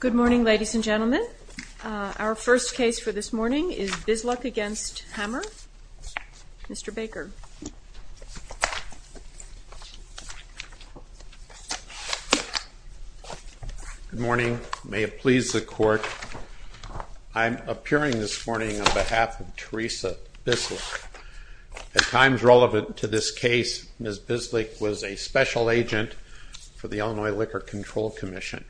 Good morning, ladies and gentlemen. Our first case for this morning is Bisluk v. Hamer. Mr. Baker. Good morning. May it please the Court, I'm appearing this morning on behalf of Teresa Bisluk. At times relevant to this case, Ms. Bisluk was a special agent for the Illinois Liquor Control Commission,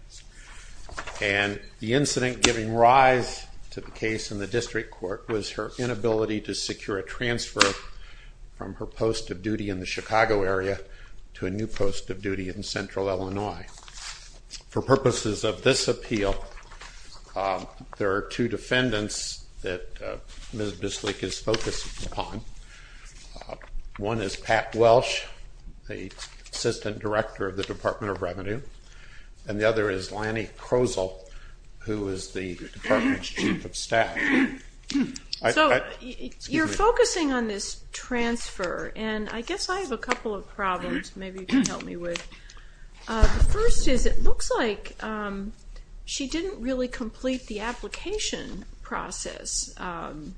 and the incident giving rise to the case in the district court was her inability to secure a transfer from her post of duty in the Chicago area to a new post of duty in central Illinois. For purposes of this appeal, there are two defendants that Ms. Bisluk is focusing upon. One is Pat Welch, the assistant director of the Department of Revenue, and the other is Lanny Krosel, who is the department's chief of staff. So, you're focusing on this transfer, and I guess I have a couple of problems maybe you can help me with. The first is it looks like she didn't really complete the application process on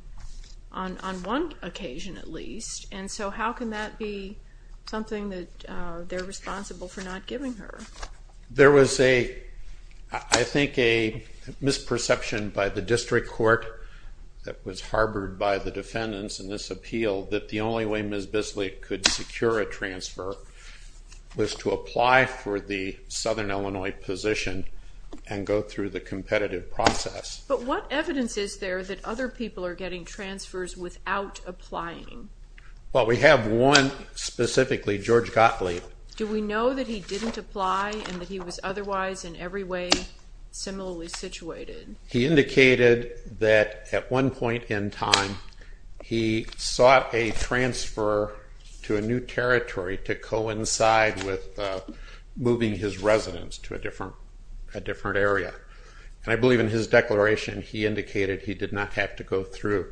one occasion at least, and so how can that be something that they're responsible for not giving her? There was a, I think a misperception by the district court that was harbored by the defendants in this appeal that the only way Ms. Bisluk could secure a transfer was to apply for the southern Illinois position and go through the competitive process. But what evidence is there that other people are getting transfers without applying? Well, we have one specifically, George Gottlieb. Do we know that he didn't apply and that he was otherwise in every way similarly situated? He indicated that at one point in time he sought a transfer to a new territory to coincide with moving his residence to a different area, and I believe in his declaration he indicated he did not have to go through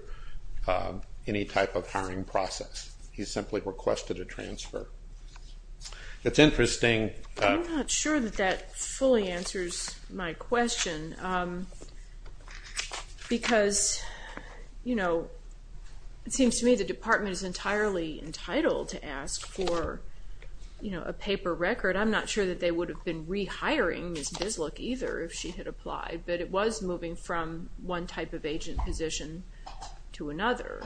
any type of hiring process. He simply requested a transfer. It's interesting. I'm not sure that that fully answers my question because, you know, it seems to me the department is entirely entitled to ask for, you know, a paper record. I'm not sure that they would have been rehiring Ms. Bisluk either if she had applied, but it was moving from one type of agent position to another,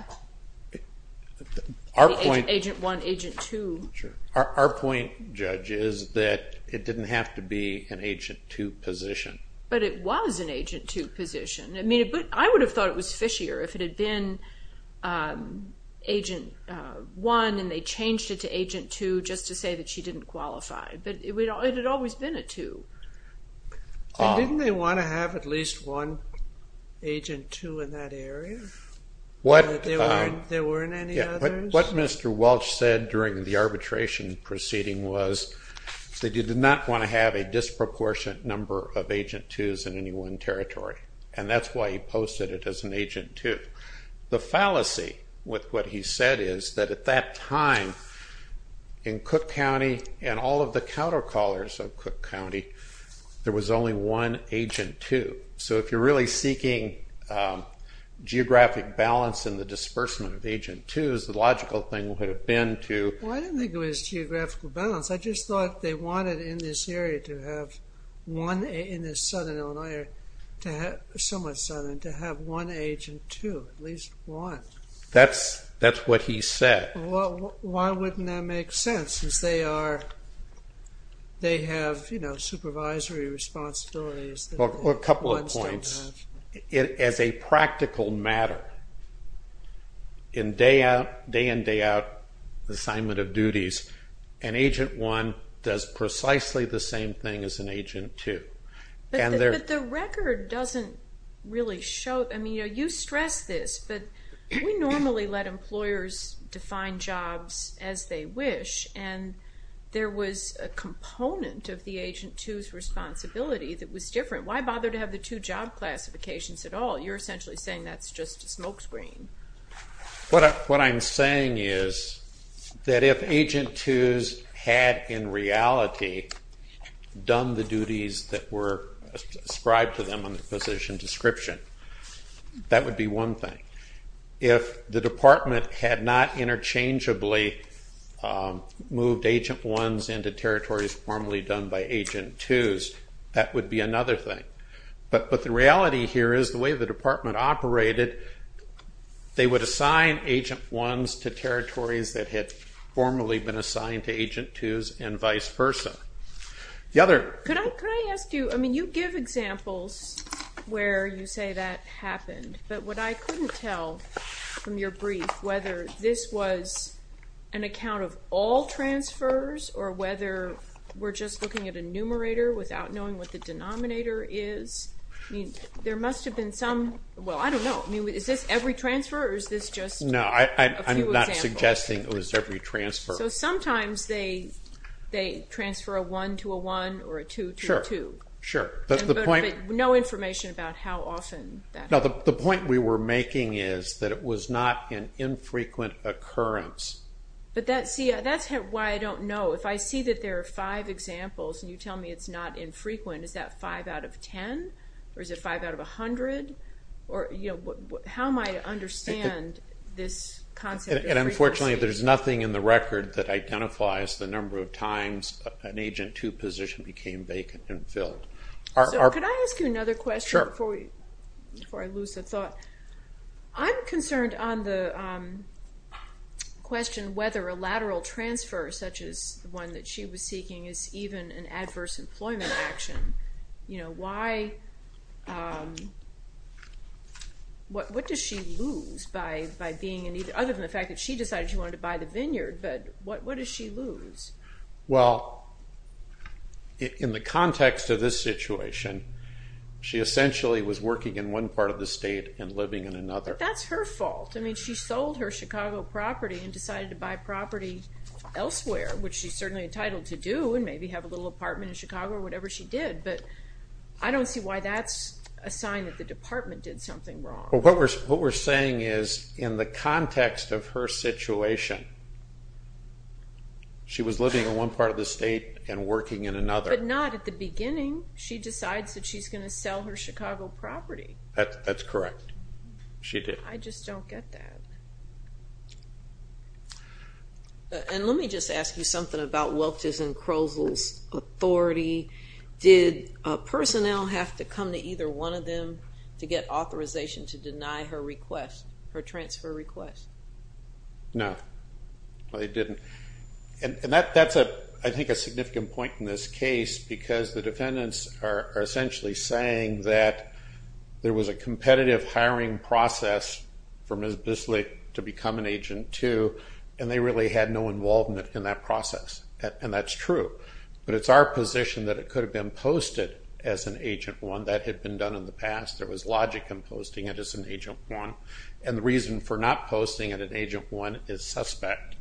agent one, agent two. Our point, Judge, is that it didn't have to be an agent two position. But it was an agent two position. I mean, I would have thought it was fishier if it had been agent one and they changed it to agent two just to say that she didn't qualify, but it had always been a two. And didn't they want to have at least one agent two in that area? There weren't any others? What Mr. Welch said during the arbitration proceeding was that he did not want to have a disproportionate number of agent twos in any one territory, and that's why he posted it as an agent two. The fallacy with what he said is that at that time in Cook County and all of the countercallers of Cook County, there was only one agent two. So if you're really seeking geographic balance in the disbursement of agent twos, the logical thing would have been to... Well, I didn't think it was geographical balance. I just thought they wanted in this area to have one, in this southern Illinois area, to have, somewhat southern, to have one agent two, at least one. That's what he said. Well, why wouldn't that make sense since they are, they have, you know, supervisory responsibilities that... Well, a couple of points. As a practical matter, in day-in, day-out assignment of duties, an agent one does precisely the same thing as an agent two. But the record doesn't really show, I mean, you stress this, but we normally let employers define jobs as they wish, and there was a component of the agent two's responsibility that was different. Why bother to have the two job classifications at all? You're essentially saying that's just a smokescreen. What I'm saying is that if agent twos had, in reality, done the duties that were ascribed to them on the position description, that would be one thing. If the department had not interchangeably moved agent ones into territories formerly done by agent twos, that would be another thing. But the reality here is the way the department operated, they would assign agent ones to territories that had formerly been assigned to agent twos and vice versa. The other... Could I ask you, I mean, you give examples where you say that happened, but what I couldn't tell from your brief, whether this was an account of all transfers or whether we're just looking at a numerator without knowing what the denominator is, I mean, there must have been some... Well, I don't know. I mean, is this every transfer or is this just a few examples? No, I'm not suggesting it was every transfer. So sometimes they transfer a one to a one or a two to a two. Sure, sure. But no information about how often that happened. No, the point we were making is that it was not an infrequent occurrence. But see, that's why I don't know. If I see that there are five examples and you tell me it's not infrequent, is that five out of ten or is it five out of a hundred? How am I to understand this concept of frequency? And unfortunately, there's nothing in the record that identifies the number of times an agent two position became vacant and filled. So could I ask you another question? Sure. Before I lose the thought, I'm concerned on the question whether a lateral transfer, such as the one that she was seeking, is even an adverse employment action. What does she lose by being in need, other than the fact that she decided she wanted to buy the vineyard, but what does she lose? Well, in the context of this situation, she essentially was working in one part of the state and living in another. That's her fault. I mean, she sold her Chicago property and decided to buy property elsewhere, which she's certainly entitled to do and maybe have a little apartment in Chicago or whatever she did. But I don't see why that's a sign that the department did something wrong. What we're saying is, in the context of her situation, she was living in one part of the state and working in another. But not at the beginning. She decides that she's going to sell her Chicago property. That's correct. She did. I just don't get that. And let me just ask you something about Welch's and Krosel's authority. Did personnel have to come to either one of them to get authorization to deny her request, her transfer request? No. They didn't. And that's, I think, a significant point in this case because the defendants are essentially saying that there was a competitive hiring process for Ms. Bisley to become an agent too, and they really had no involvement in that process. And that's true. But it's our position that it could have been posted as an Agent 1. That had been done in the past. There was logic in posting it as an Agent 1. And the reason for not posting it as Agent 1 is suspect.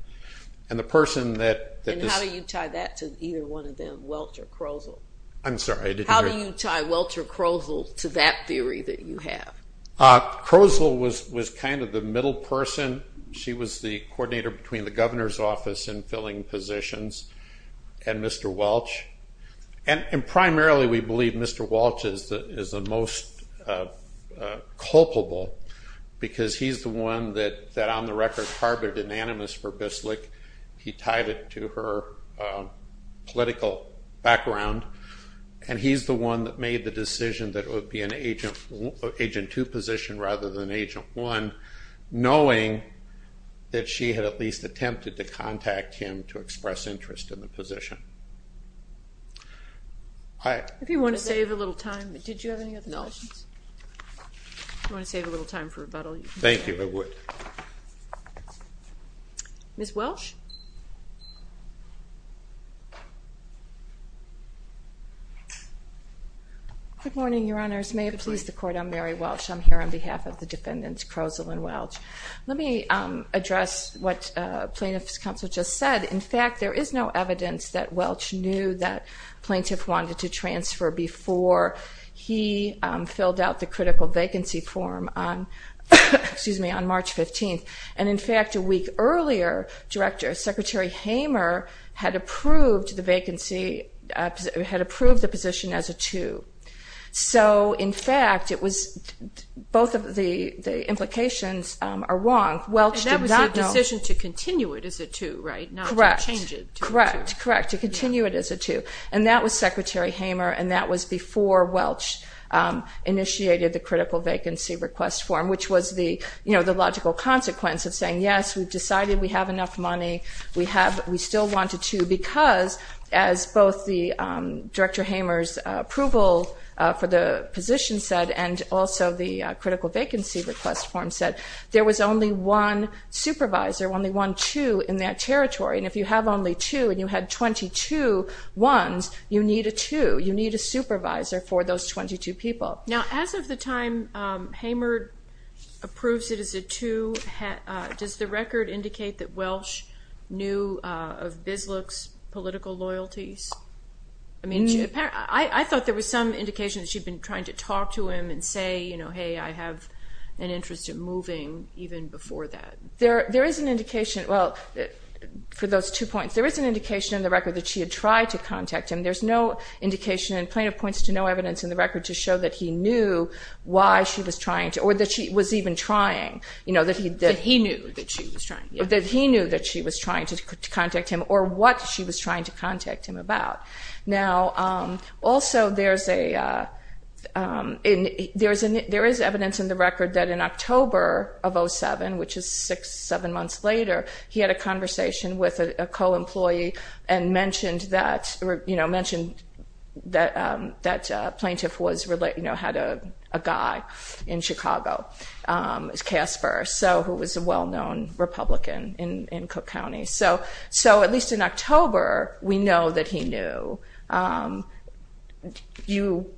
And the person that- And how do you tie that to either one of them, Welch or Krosel? I'm sorry, I didn't hear- How do you tie Welch or Krosel to that theory that you have? Krosel was kind of the middle person. She was the coordinator between the governor's office and filling positions. And Mr. Welch, and primarily we believe Mr. Welch is the most culpable because he's the one that, on the record, harbored an animus for Bisley. He tied it to her political background. And he's the one that made the decision that it would be an Agent 2 position rather than If you want to save a little time, did you have any other questions? No. Do you want to save a little time for rebuttal? Thank you. I would. Ms. Welch? Good morning, Your Honors. May it please the Court, I'm Mary Welch. I'm here on behalf of the defendants, Krosel and Welch. Let me address what Plaintiff's Counsel just said. In fact, there is no evidence that Welch knew that Plaintiff wanted to transfer before he filled out the critical vacancy form on March 15th. And in fact, a week earlier, Secretary Hamer had approved the vacancy, had approved the position as a 2. So in fact, it was, both of the implications are wrong. Welch did not- And that was a decision to continue it as a 2, right? Correct. Correct. Correct. To continue it as a 2. And that was Secretary Hamer, and that was before Welch initiated the critical vacancy request form, which was the, you know, the logical consequence of saying yes, we've decided we have enough money, we have, we still wanted to, because as both the Director Hamer's approval for the position said, and also the critical vacancy request form said, there was only one supervisor, only one 2 in that territory, and if you have only 2 and you had 22 1s, you need a 2. You need a supervisor for those 22 people. Now, as of the time Hamer approves it as a 2, does the record indicate that Welch knew of Bisloch's political loyalties? I mean, I thought there was some indication that she'd been trying to talk to him and say, you know, hey, I have an interest in moving even before that. There is an indication, well, for those 2 points, there is an indication in the record that she had tried to contact him. There's no indication in plaintiff points to no evidence in the record to show that he knew why she was trying to, or that she was even trying, you know, that he did. He knew that she was trying, yeah. That he knew that she was trying to contact him, or what she was trying to contact him about. Now, also, there is evidence in the record that in October of 07, which is 6, 7 months later, he had a conversation with a co-employee and mentioned that plaintiff had a guy in Chicago, Casper, who was a well-known Republican in Cook County. So at least in October, we know that he knew. You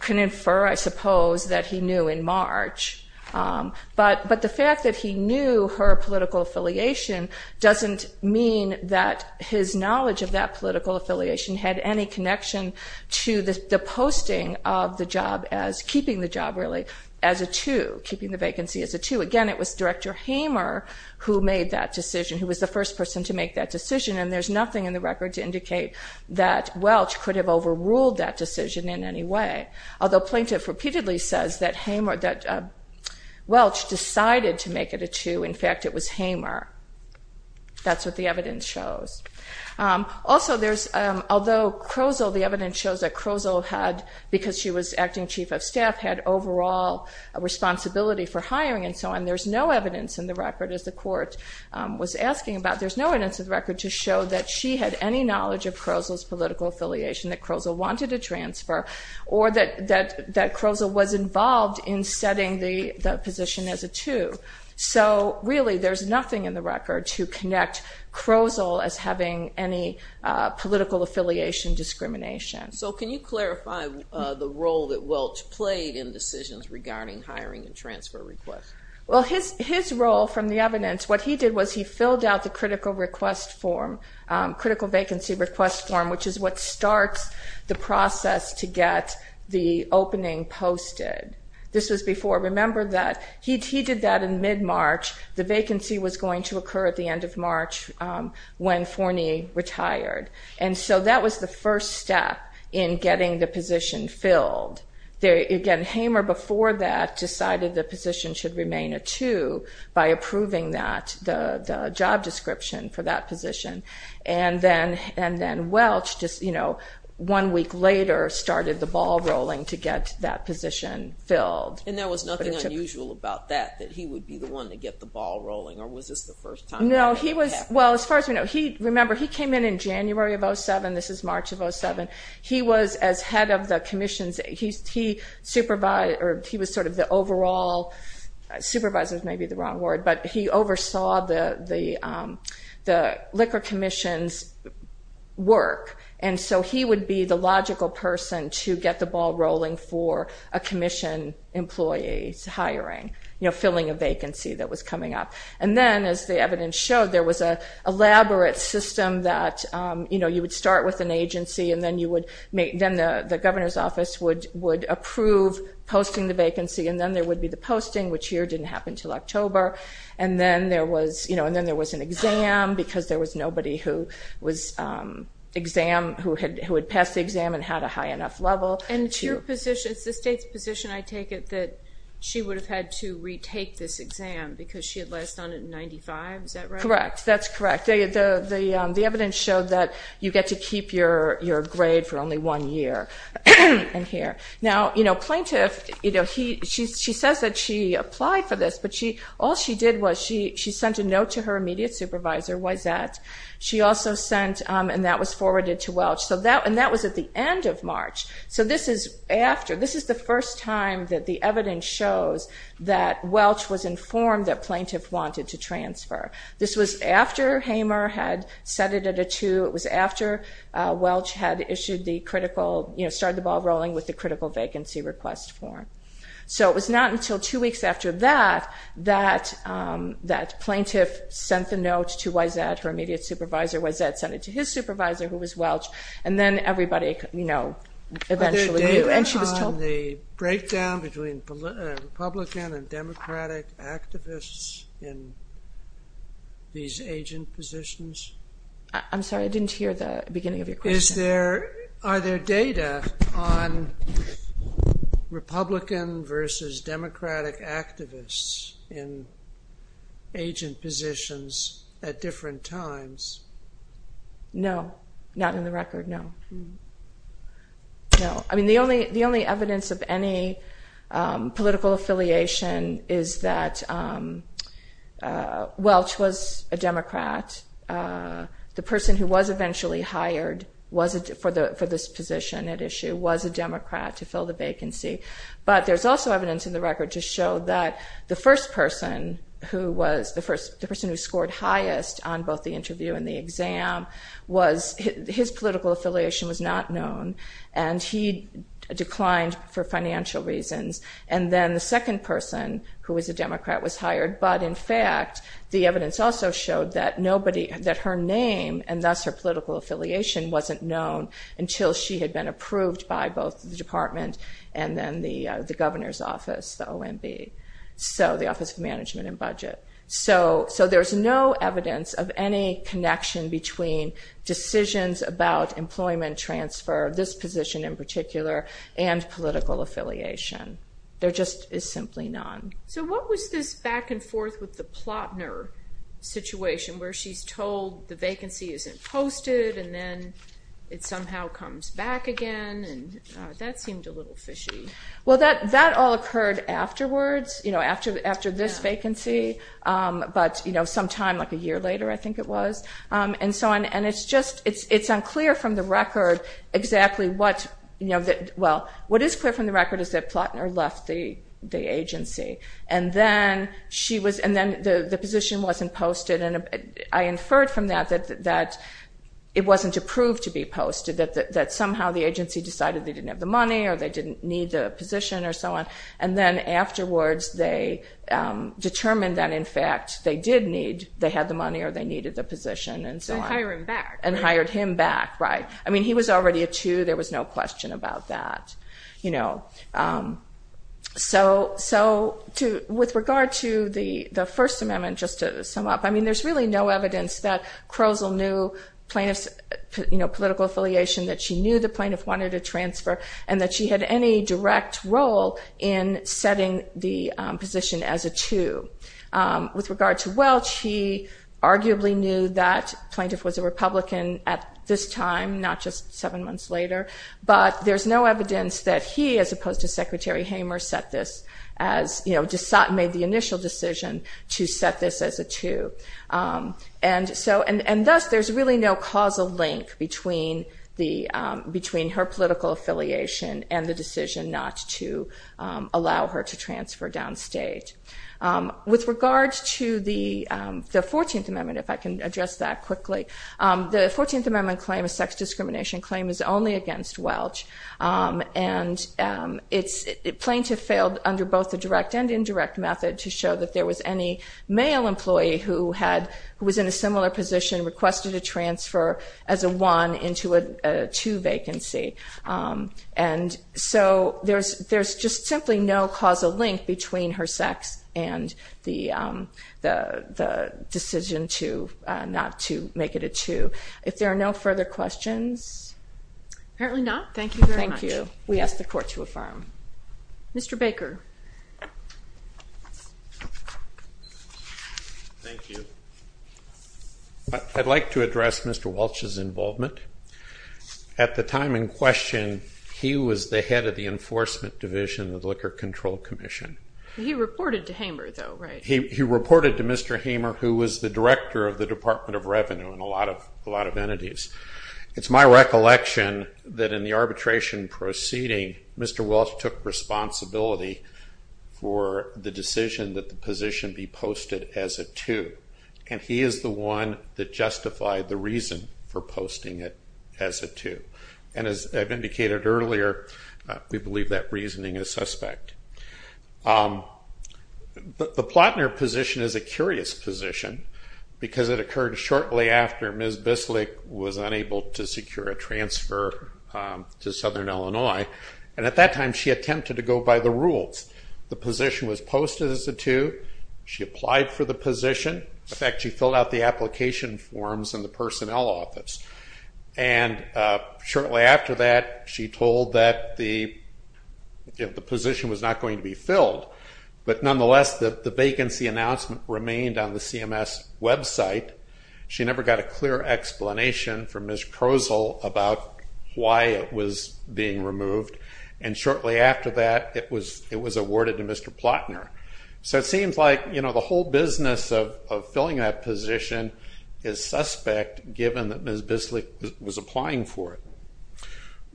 can infer, I suppose, that he knew in March. But the fact that he knew her political affiliation doesn't mean that his knowledge of that political affiliation had any connection to the posting of the job as, keeping the job, really, as a 2, keeping the vacancy as a 2. Again, it was Director Hamer who made that decision, who was the first person to make that decision. And there's nothing in the record to indicate that Welch could have overruled that decision in any way, although plaintiff repeatedly says that Welch decided to make it a 2. In fact, it was Hamer. That's what the evidence shows. Also, there's, although Crozel, the evidence shows that Crozel had, because she was acting chief of staff, had overall responsibility for hiring and so on, there's no evidence in the record, as the court was asking about, there's no evidence in the record to show that she had any knowledge of Crozel's political affiliation, that Crozel wanted a transfer, or that Crozel was involved in setting the position as a 2. So really, there's nothing in the record to connect Crozel as having any political affiliation discrimination. So can you clarify the role that Welch played in decisions regarding hiring and transfer requests? Well, his role from the evidence, what he did was he filled out the critical request form, critical vacancy request form, which is what starts the process to get the opening posted. This was before. Remember that he did that in mid-March. The vacancy was going to occur at the end of March when Forney retired. And so that was the first step in getting the position filled. Again, Hamer, before that, decided the position should remain a 2 by approving that, the job description for that position. And then Welch, just one week later, started the ball rolling to get that position filled. And there was nothing unusual about that, that he would be the one to get the ball rolling, or was this the first time that happened? No. Well, as far as we know, remember, he came in in January of 07. This is March of 07. He was, as head of the commissions, he supervised, or he was sort of the overall, supervisors may be the wrong word, but he oversaw the Liquor Commission's work. And so he would be the logical person to get the ball rolling for a commission employee's hiring, filling a vacancy that was coming up. And then, as the evidence showed, there was an elaborate system that you would start with an agency, and then the governor's office would approve posting the vacancy, and then there would be the posting, which here didn't happen until October. And then there was an exam, because there was nobody who was exam, who had passed the exam and had a high enough level. And it's your position, it's the state's position, I take it, that she would have had to retake this exam, because she had last done it in 95, is that right? Correct, that's correct. The evidence showed that you get to keep your grade for only one year in here. Now plaintiff, she says that she applied for this, but all she did was she sent a note to her immediate supervisor, Wiset. She also sent, and that was forwarded to Welch, and that was at the end of March. So this is after, this is the first time that the evidence shows that Welch was informed that plaintiff wanted to transfer. This was after Hamer had set it at a two, it was after Welch had issued the critical, started the ball rolling with the critical vacancy request form. So it was not until two weeks after that, that plaintiff sent the note to Wiset, her immediate supervisor. Wiset sent it to his supervisor, who was Welch, and then everybody, you know, eventually knew. Are there data on the breakdown between Republican and Democratic activists in these agent positions? I'm sorry, I didn't hear the beginning of your question. Is there, are there data on Republican versus Democratic activists in agent positions at different times? No, not in the record, no. No, I mean the only evidence of any political affiliation is that Welch was a Democrat. The person who was eventually hired was, for this position at issue, was a Democrat to fill the vacancy. But there's also evidence in the record to show that the first person who was, the person who scored highest on both the interview and the exam was, his political affiliation was not known, and he declined for financial reasons. And then the second person who was a Democrat was hired, but in fact, the evidence also showed that nobody, that her name, and thus her political affiliation, wasn't known until she had been approved by both the department and then the governor's office, the OMB, so the Office of Management and Budget. So there's no evidence of any connection between decisions about employment transfer, this position in particular, and political affiliation. There just is simply none. So what was this back and forth with the Plotner situation, where she's told the vacancy isn't posted, and then it somehow comes back again, and that seemed a little fishy. Well that all occurred afterwards, after this vacancy, but some time, like a year later I think it was, and it's unclear from the record exactly what, well, what is clear from the agency. And then the position wasn't posted, and I inferred from that that it wasn't approved to be posted, that somehow the agency decided they didn't have the money, or they didn't need the position, or so on, and then afterwards they determined that in fact they did need, they had the money, or they needed the position, and so on. And hired him back. And hired him back, right. I mean, he was already a two, there was no question about that, you know. So with regard to the First Amendment, just to sum up, I mean there's really no evidence that Crozel knew plaintiffs, you know, political affiliation, that she knew the plaintiff wanted a transfer, and that she had any direct role in setting the position as a two. With regard to Welch, he arguably knew that plaintiff was a Republican at this time, not just seven months later, but there's no evidence that he, as opposed to Secretary Hamer, set this as, you know, made the initial decision to set this as a two. And so, and thus there's really no causal link between her political affiliation and the decision not to allow her to transfer downstate. With regard to the Fourteenth Amendment, if I can address that quickly, the Fourteenth Amendment claim, a sex discrimination claim, is only against Welch. And it's, plaintiff failed under both the direct and indirect method to show that there was any male employee who had, who was in a similar position, requested a transfer as a one into a two vacancy. And so, there's just simply no causal link between her sex and the decision to, not to make it a two. If there are no further questions? Apparently not. Thank you very much. Thank you. We ask the Court to affirm. Mr. Baker. Thank you. I'd like to address Mr. Welch's involvement. At the time in question, he was the head of the Enforcement Division of the Liquor Control Commission. He reported to Hamer, though, right? He reported to Mr. Hamer, who was the Director of the Department of Revenue in a lot of entities. It's my recollection that in the arbitration proceeding, Mr. Welch took responsibility is the one that justified the reason for posting it as a two. And as I've indicated earlier, we believe that reasoning is suspect. The Plotner position is a curious position, because it occurred shortly after Ms. Bislick was unable to secure a transfer to Southern Illinois, and at that time, she attempted to go by the rules. The position was posted as a two. She applied for the position. In fact, she filled out the application forms in the personnel office. And shortly after that, she told that the position was not going to be filled. But nonetheless, the vacancy announcement remained on the CMS website. She never got a clear explanation from Ms. Krosel about why it was being removed. And shortly after that, it was awarded to Mr. Plotner. So it seems like the whole business of filling that position is suspect, given that Ms. Bislick was applying for it.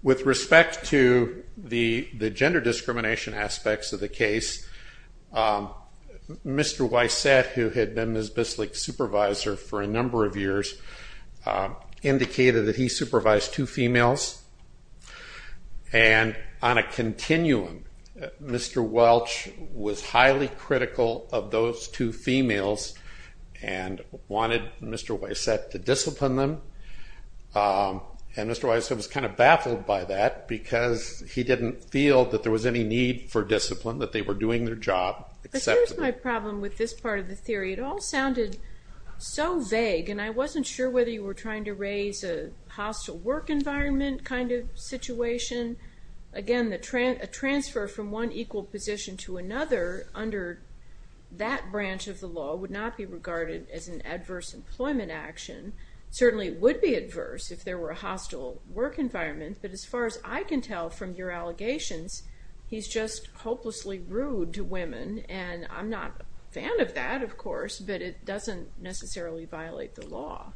With respect to the gender discrimination aspects of the case, Mr. Wyset, who had been Ms. Bislick's supervisor for a number of years, indicated that he supervised two females. And on a continuum, Mr. Welch was highly critical of those two females and wanted Mr. Wyset to discipline them. And Mr. Wyset was kind of baffled by that, because he didn't feel that there was any need for discipline, that they were doing their job acceptably. But here's my problem with this part of the theory. It all sounded so vague, and I wasn't sure whether you were trying to raise a hostile work environment kind of situation. Again, a transfer from one equal position to another under that branch of the law would not be regarded as an adverse employment action. It certainly would be adverse if there were a hostile work environment. But as far as I can tell from your allegations, he's just hopelessly rude to women. And I'm not a fan of that, of course, but it doesn't necessarily violate the law.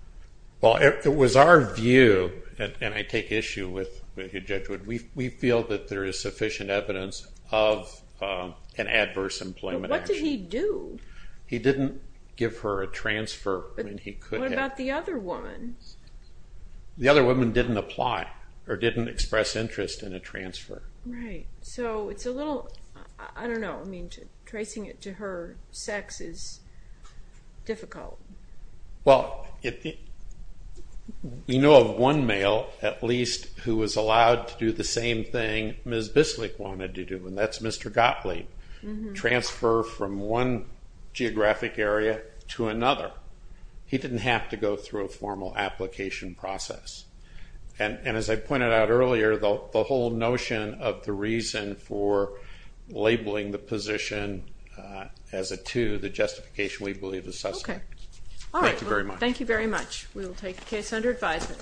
Well, it was our view, and I take issue with what you judge, we feel that there is sufficient evidence of an adverse employment action. But what did he do? He didn't give her a transfer when he could have. But what about the other woman? The other woman didn't apply, or didn't express interest in a transfer. Right. So it's a little, I don't know, tracing it to her sex is difficult. Well, we know of one male, at least, who was allowed to do the same thing Ms. Bislick wanted to do, and that's Mr. Gottlieb. Transfer from one geographic area to another. He didn't have to go through a formal application process. And as I pointed out earlier, the whole notion of the reason for labeling the position as a two, the justification we believe is suspect. Okay. All right. Thank you very much. Thank you very much. We will take the case under advisement.